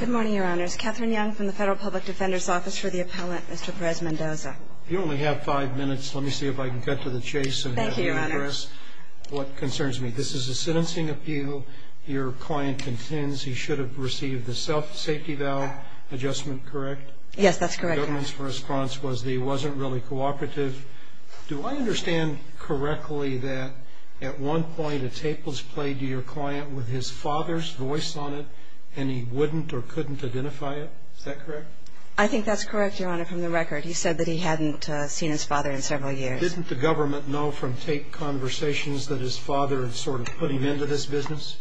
Good morning, Your Honors. Kathryn Young from the Federal Public Defender's Office for the Appellant, Mr. Perez Mendoza. You only have five minutes. Let me see if I can cut to the chase. Thank you, Your Honor. What concerns me, this is a sentencing appeal. Your client intends he should have received the self-safety valve adjustment, correct? Yes, that's correct, Your Honor. The government's response was that he wasn't really cooperative. Do I understand correctly that at one point a tape was played to your client with his father's voice on it and he wouldn't or couldn't identify it? Is that correct? I think that's correct, Your Honor, from the record. He said that he hadn't seen his father in several years. Didn't the government know from tape conversations that his father had sort of put him into this business?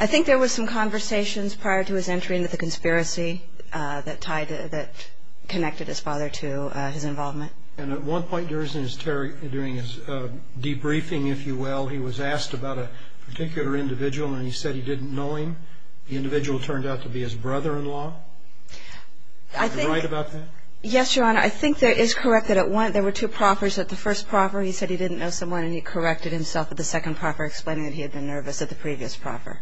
I think there were some conversations prior to his entry into the conspiracy that connected his father to his involvement. And at one point during his debriefing, if you will, he was asked about a particular individual and he said he didn't know him. The individual turned out to be his brother-in-law. I think... Are you right about that? Yes, Your Honor. I think that it is correct that at one, there were two proffers at the first proffer. He said he didn't know someone and he corrected himself at the second proffer, explaining that he had been nervous at the previous proffer.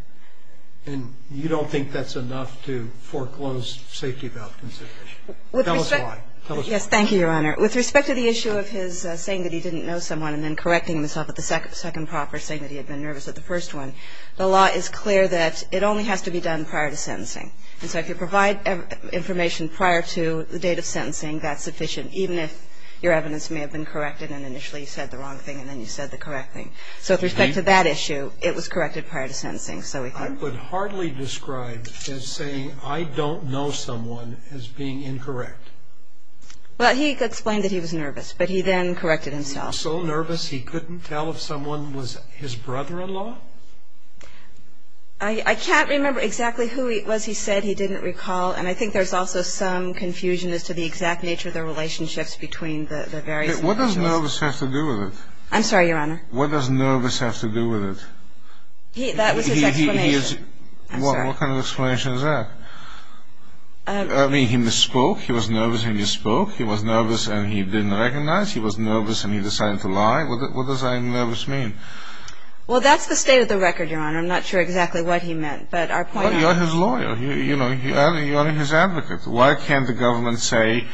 And you don't think that's enough to foreclose safety valve consideration? With respect... Tell us why. Tell us why. Yes, thank you, Your Honor. With respect to the issue of his saying that he didn't know someone and then correcting himself at the second proffer, saying that he had been nervous at the first one, the law is clear that it only has to be done prior to sentencing. And so if you provide information prior to the date of sentencing, that's sufficient, even if your evidence may have been corrected and initially you said the wrong thing and then you said the correct thing. So with respect to that issue, it was corrected prior to sentencing. I would hardly describe as saying I don't know someone as being incorrect. Well, he explained that he was nervous, but he then corrected himself. So nervous he couldn't tell if someone was his brother-in-law? I can't remember exactly who it was he said he didn't recall, and I think there's also some confusion as to the exact nature of the relationships between the various individuals. What does nervous have to do with it? I'm sorry, Your Honor. What does nervous have to do with it? That was his explanation. I'm sorry. What kind of explanation is that? I mean, he misspoke, he was nervous when he spoke, he was nervous and he didn't recognize, he was nervous and he decided to lie. What does nervous mean? Well, that's the state of the record, Your Honor. I'm not sure exactly what he meant, but our point is... Well, you're his lawyer, you know, you're his advocate. Why can't the government say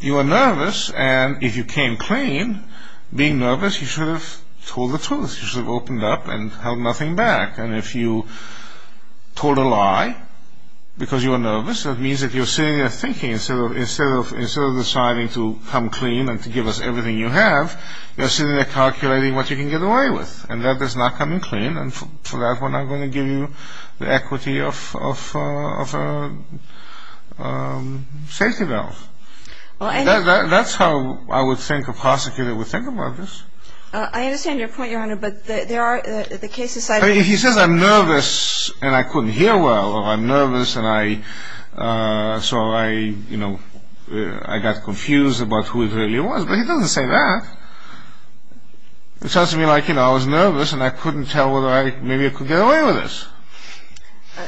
you were nervous and if you came clean, being nervous, you should have told the truth, you should have opened up and held nothing back. And if you told a lie because you were nervous, that means that you're sitting there thinking, instead of deciding to come clean and to give us everything you have, you're sitting there calculating what you can get away with, and that does not come in clean and for that we're not going to give you the equity of a safety valve. That's how I would think a prosecutor would think about this. I understand your point, Your Honor, but there are cases... He says I'm nervous and I couldn't hear well, or I'm nervous and I, so I, you know, I got confused about who it really was, but he doesn't say that. It sounds to me like, you know, I was nervous and I couldn't tell whether I, maybe I could get away with this.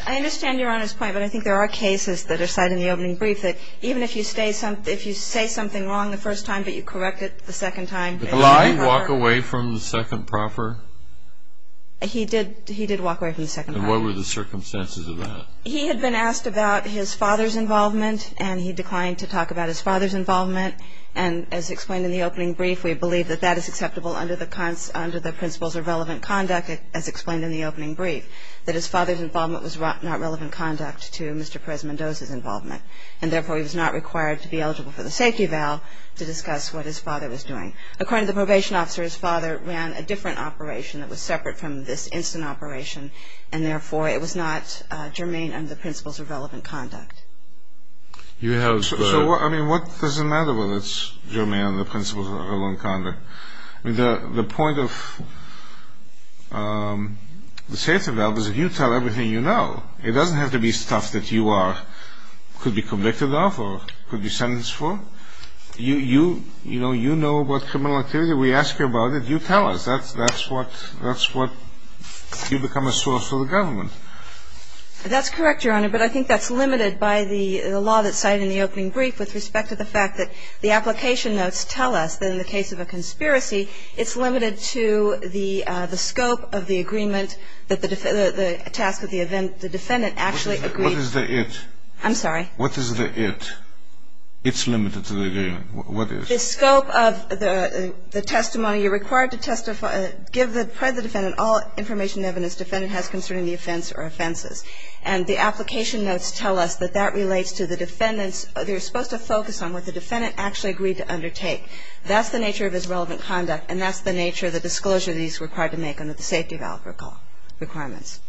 I understand Your Honor's point, but I think there are cases that are cited in the opening brief that even if you say something wrong the first time but you correct it the second time... Did he walk away from the second proffer? He did walk away from the second proffer. And what were the circumstances of that? He had been asked about his father's involvement and he declined to talk about his father's involvement. And as explained in the opening brief, we believe that that is acceptable under the principles of relevant conduct, as explained in the opening brief, that his father's involvement was not relevant conduct to Mr. Perez-Mendoza's involvement, and therefore he was not required to be eligible for the safety valve to discuss what his father was doing. According to the probation officer, his father ran a different operation that was separate from this instant operation, and therefore it was not germane under the principles of relevant conduct. So, I mean, what does it matter whether it's germane under the principles of relevant conduct? The point of the safety valve is if you tell everything you know, it doesn't have to be stuff that you could be convicted of or could be sentenced for. You know what criminal activity, we ask you about it, you tell us. That's what you become a source for the government. That's correct, Your Honor, but I think that's limited by the law that's cited in the opening brief with respect to the fact that the application notes tell us that in the case of a conspiracy, it's limited to the scope of the agreement that the task of the defendant actually agreed. What is the it? I'm sorry? What is the it? It's limited to the agreement. What is? The scope of the testimony. You're required to testify, give the defendant all information and evidence the defendant has concerning the offense or offenses, and the application notes tell us that that relates to the defendant's, they're supposed to focus on what the defendant actually agreed to undertake. That's the nature of his relevant conduct, and that's the nature of the disclosure that he's required to make under the safety valve requirements.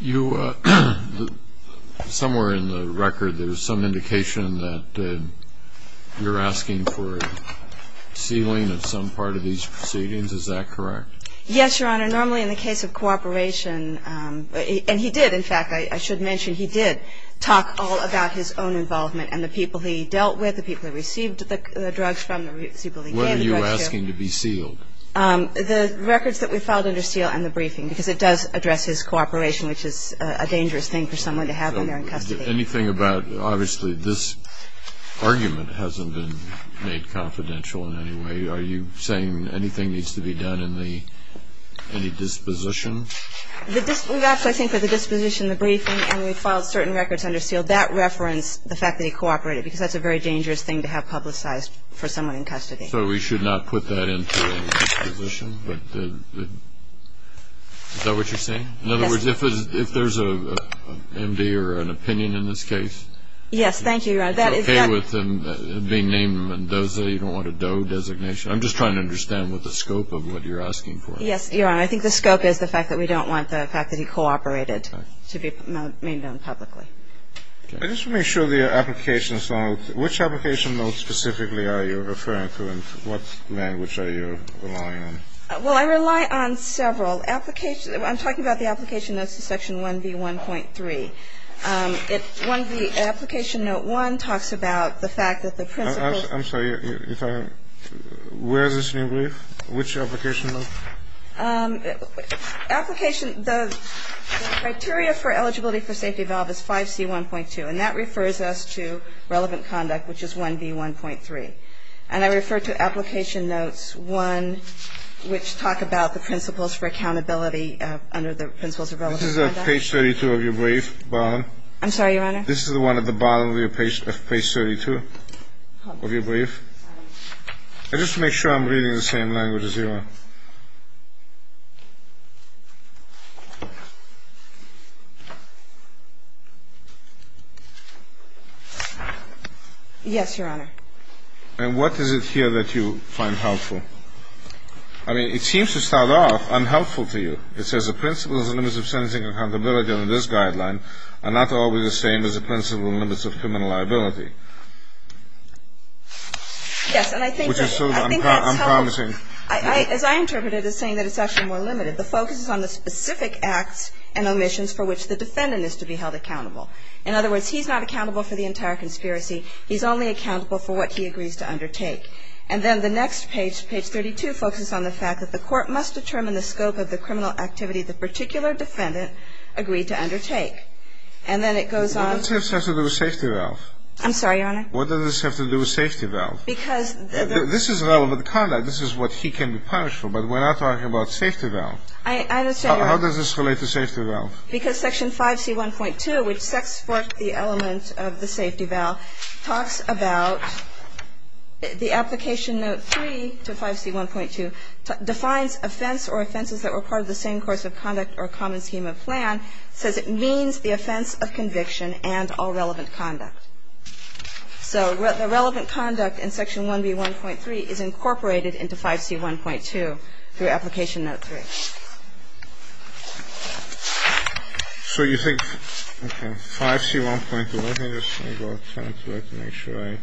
You, somewhere in the record, there's some indication that you're asking for sealing of some part of these proceedings. Is that correct? Yes, Your Honor. Your Honor, normally in the case of cooperation, and he did, in fact, I should mention, he did talk all about his own involvement and the people he dealt with, the people he received the drugs from, the people he gave the drugs to. What are you asking to be sealed? The records that we filed under seal and the briefing, because it does address his cooperation, which is a dangerous thing for someone to have when they're in custody. Anything about, obviously, this argument hasn't been made confidential in any way. Are you saying anything needs to be done in the, any disposition? We've asked, I think, for the disposition, the briefing, and we filed certain records under seal. That referenced the fact that he cooperated, because that's a very dangerous thing to have publicized for someone in custody. So we should not put that into a disposition? Is that what you're saying? Yes. In other words, if there's an MD or an opinion in this case, Yes, thank you, Your Honor. I'm just trying to understand what the scope of what you're asking for is. Yes, Your Honor. I think the scope is the fact that we don't want the fact that he cooperated to be made known publicly. Okay. Just to make sure the application is known, which application notes specifically are you referring to and what language are you relying on? Well, I rely on several applications. I'm talking about the application notes to Section 1B1.3. Application note 1 talks about the fact that the principles I'm sorry. Where is this in your brief? Which application note? Application, the criteria for eligibility for safety valve is 5C1.2, and that refers us to relevant conduct, which is 1B1.3. And I refer to application notes 1, which talk about the principles for accountability under the principles of relevant conduct. What is that page 32 of your brief, Barron? I'm sorry, Your Honor. This is the one at the bottom of page 32 of your brief. Just to make sure I'm reading the same language as you are. Yes, Your Honor. And what is it here that you find helpful? I mean, it seems to start off unhelpful to you. It says the principles and limits of sentencing accountability under this guideline are not always the same as the principles and limits of criminal liability. Yes, and I think that's helpful. Which is sort of, I'm promising. As I interpreted it as saying that it's actually more limited. The focus is on the specific acts and omissions for which the defendant is to be held accountable. In other words, he's not accountable for the entire conspiracy. He's only accountable for what he agrees to undertake. And then the next page, page 32, focuses on the fact that the court must determine the scope of the criminal activity the particular defendant agreed to undertake. And then it goes on. What does this have to do with safety valve? I'm sorry, Your Honor. What does this have to do with safety valve? Because this is relevant conduct. This is what he can be punished for. But we're not talking about safety valve. I understand, Your Honor. How does this relate to safety valve? Because section 5C1.2, which sets forth the element of the safety valve, talks about the application note 3 to 5C1.2 defines offense or offenses that were part of the same course of conduct or common scheme of plan, says it means the offense of conviction and all relevant conduct. So the relevant conduct in section 1B1.3 is incorporated into 5C1.2 through application note 3. So you think, okay, 5C1.2. Let me just go to the template to make sure I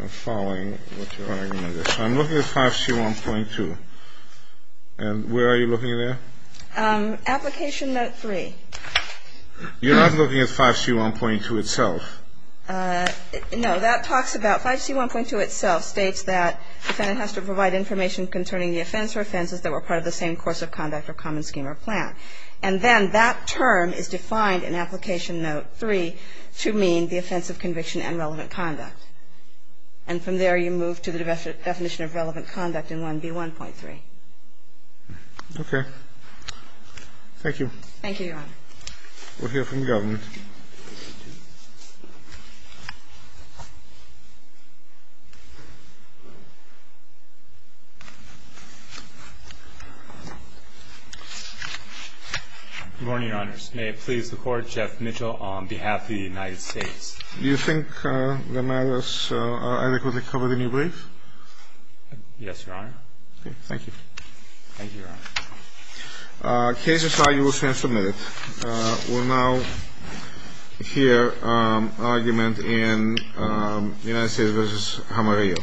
am following what you're arguing there. So I'm looking at 5C1.2. And where are you looking there? Application note 3. You're not looking at 5C1.2 itself. No. That talks about 5C1.2 itself states that defendant has to provide information concerning the offense or offenses that were part of the same course of conduct or common scheme or plan. And then that term is defined in application note 3 to mean the offense of conviction and relevant conduct. And from there you move to the definition of relevant conduct in 1B1.3. Okay. Thank you. Thank you, Your Honor. We'll hear from the government. Good morning, Your Honors. May it please the Court, Jeff Mitchell on behalf of the United States. Do you think the matters are adequately covered in your brief? Yes, Your Honor. Okay. Thank you. Thank you, Your Honor. Cases are usually submitted. We'll now hear argument in United States v. Jamarillo. Thank you, Your Honor.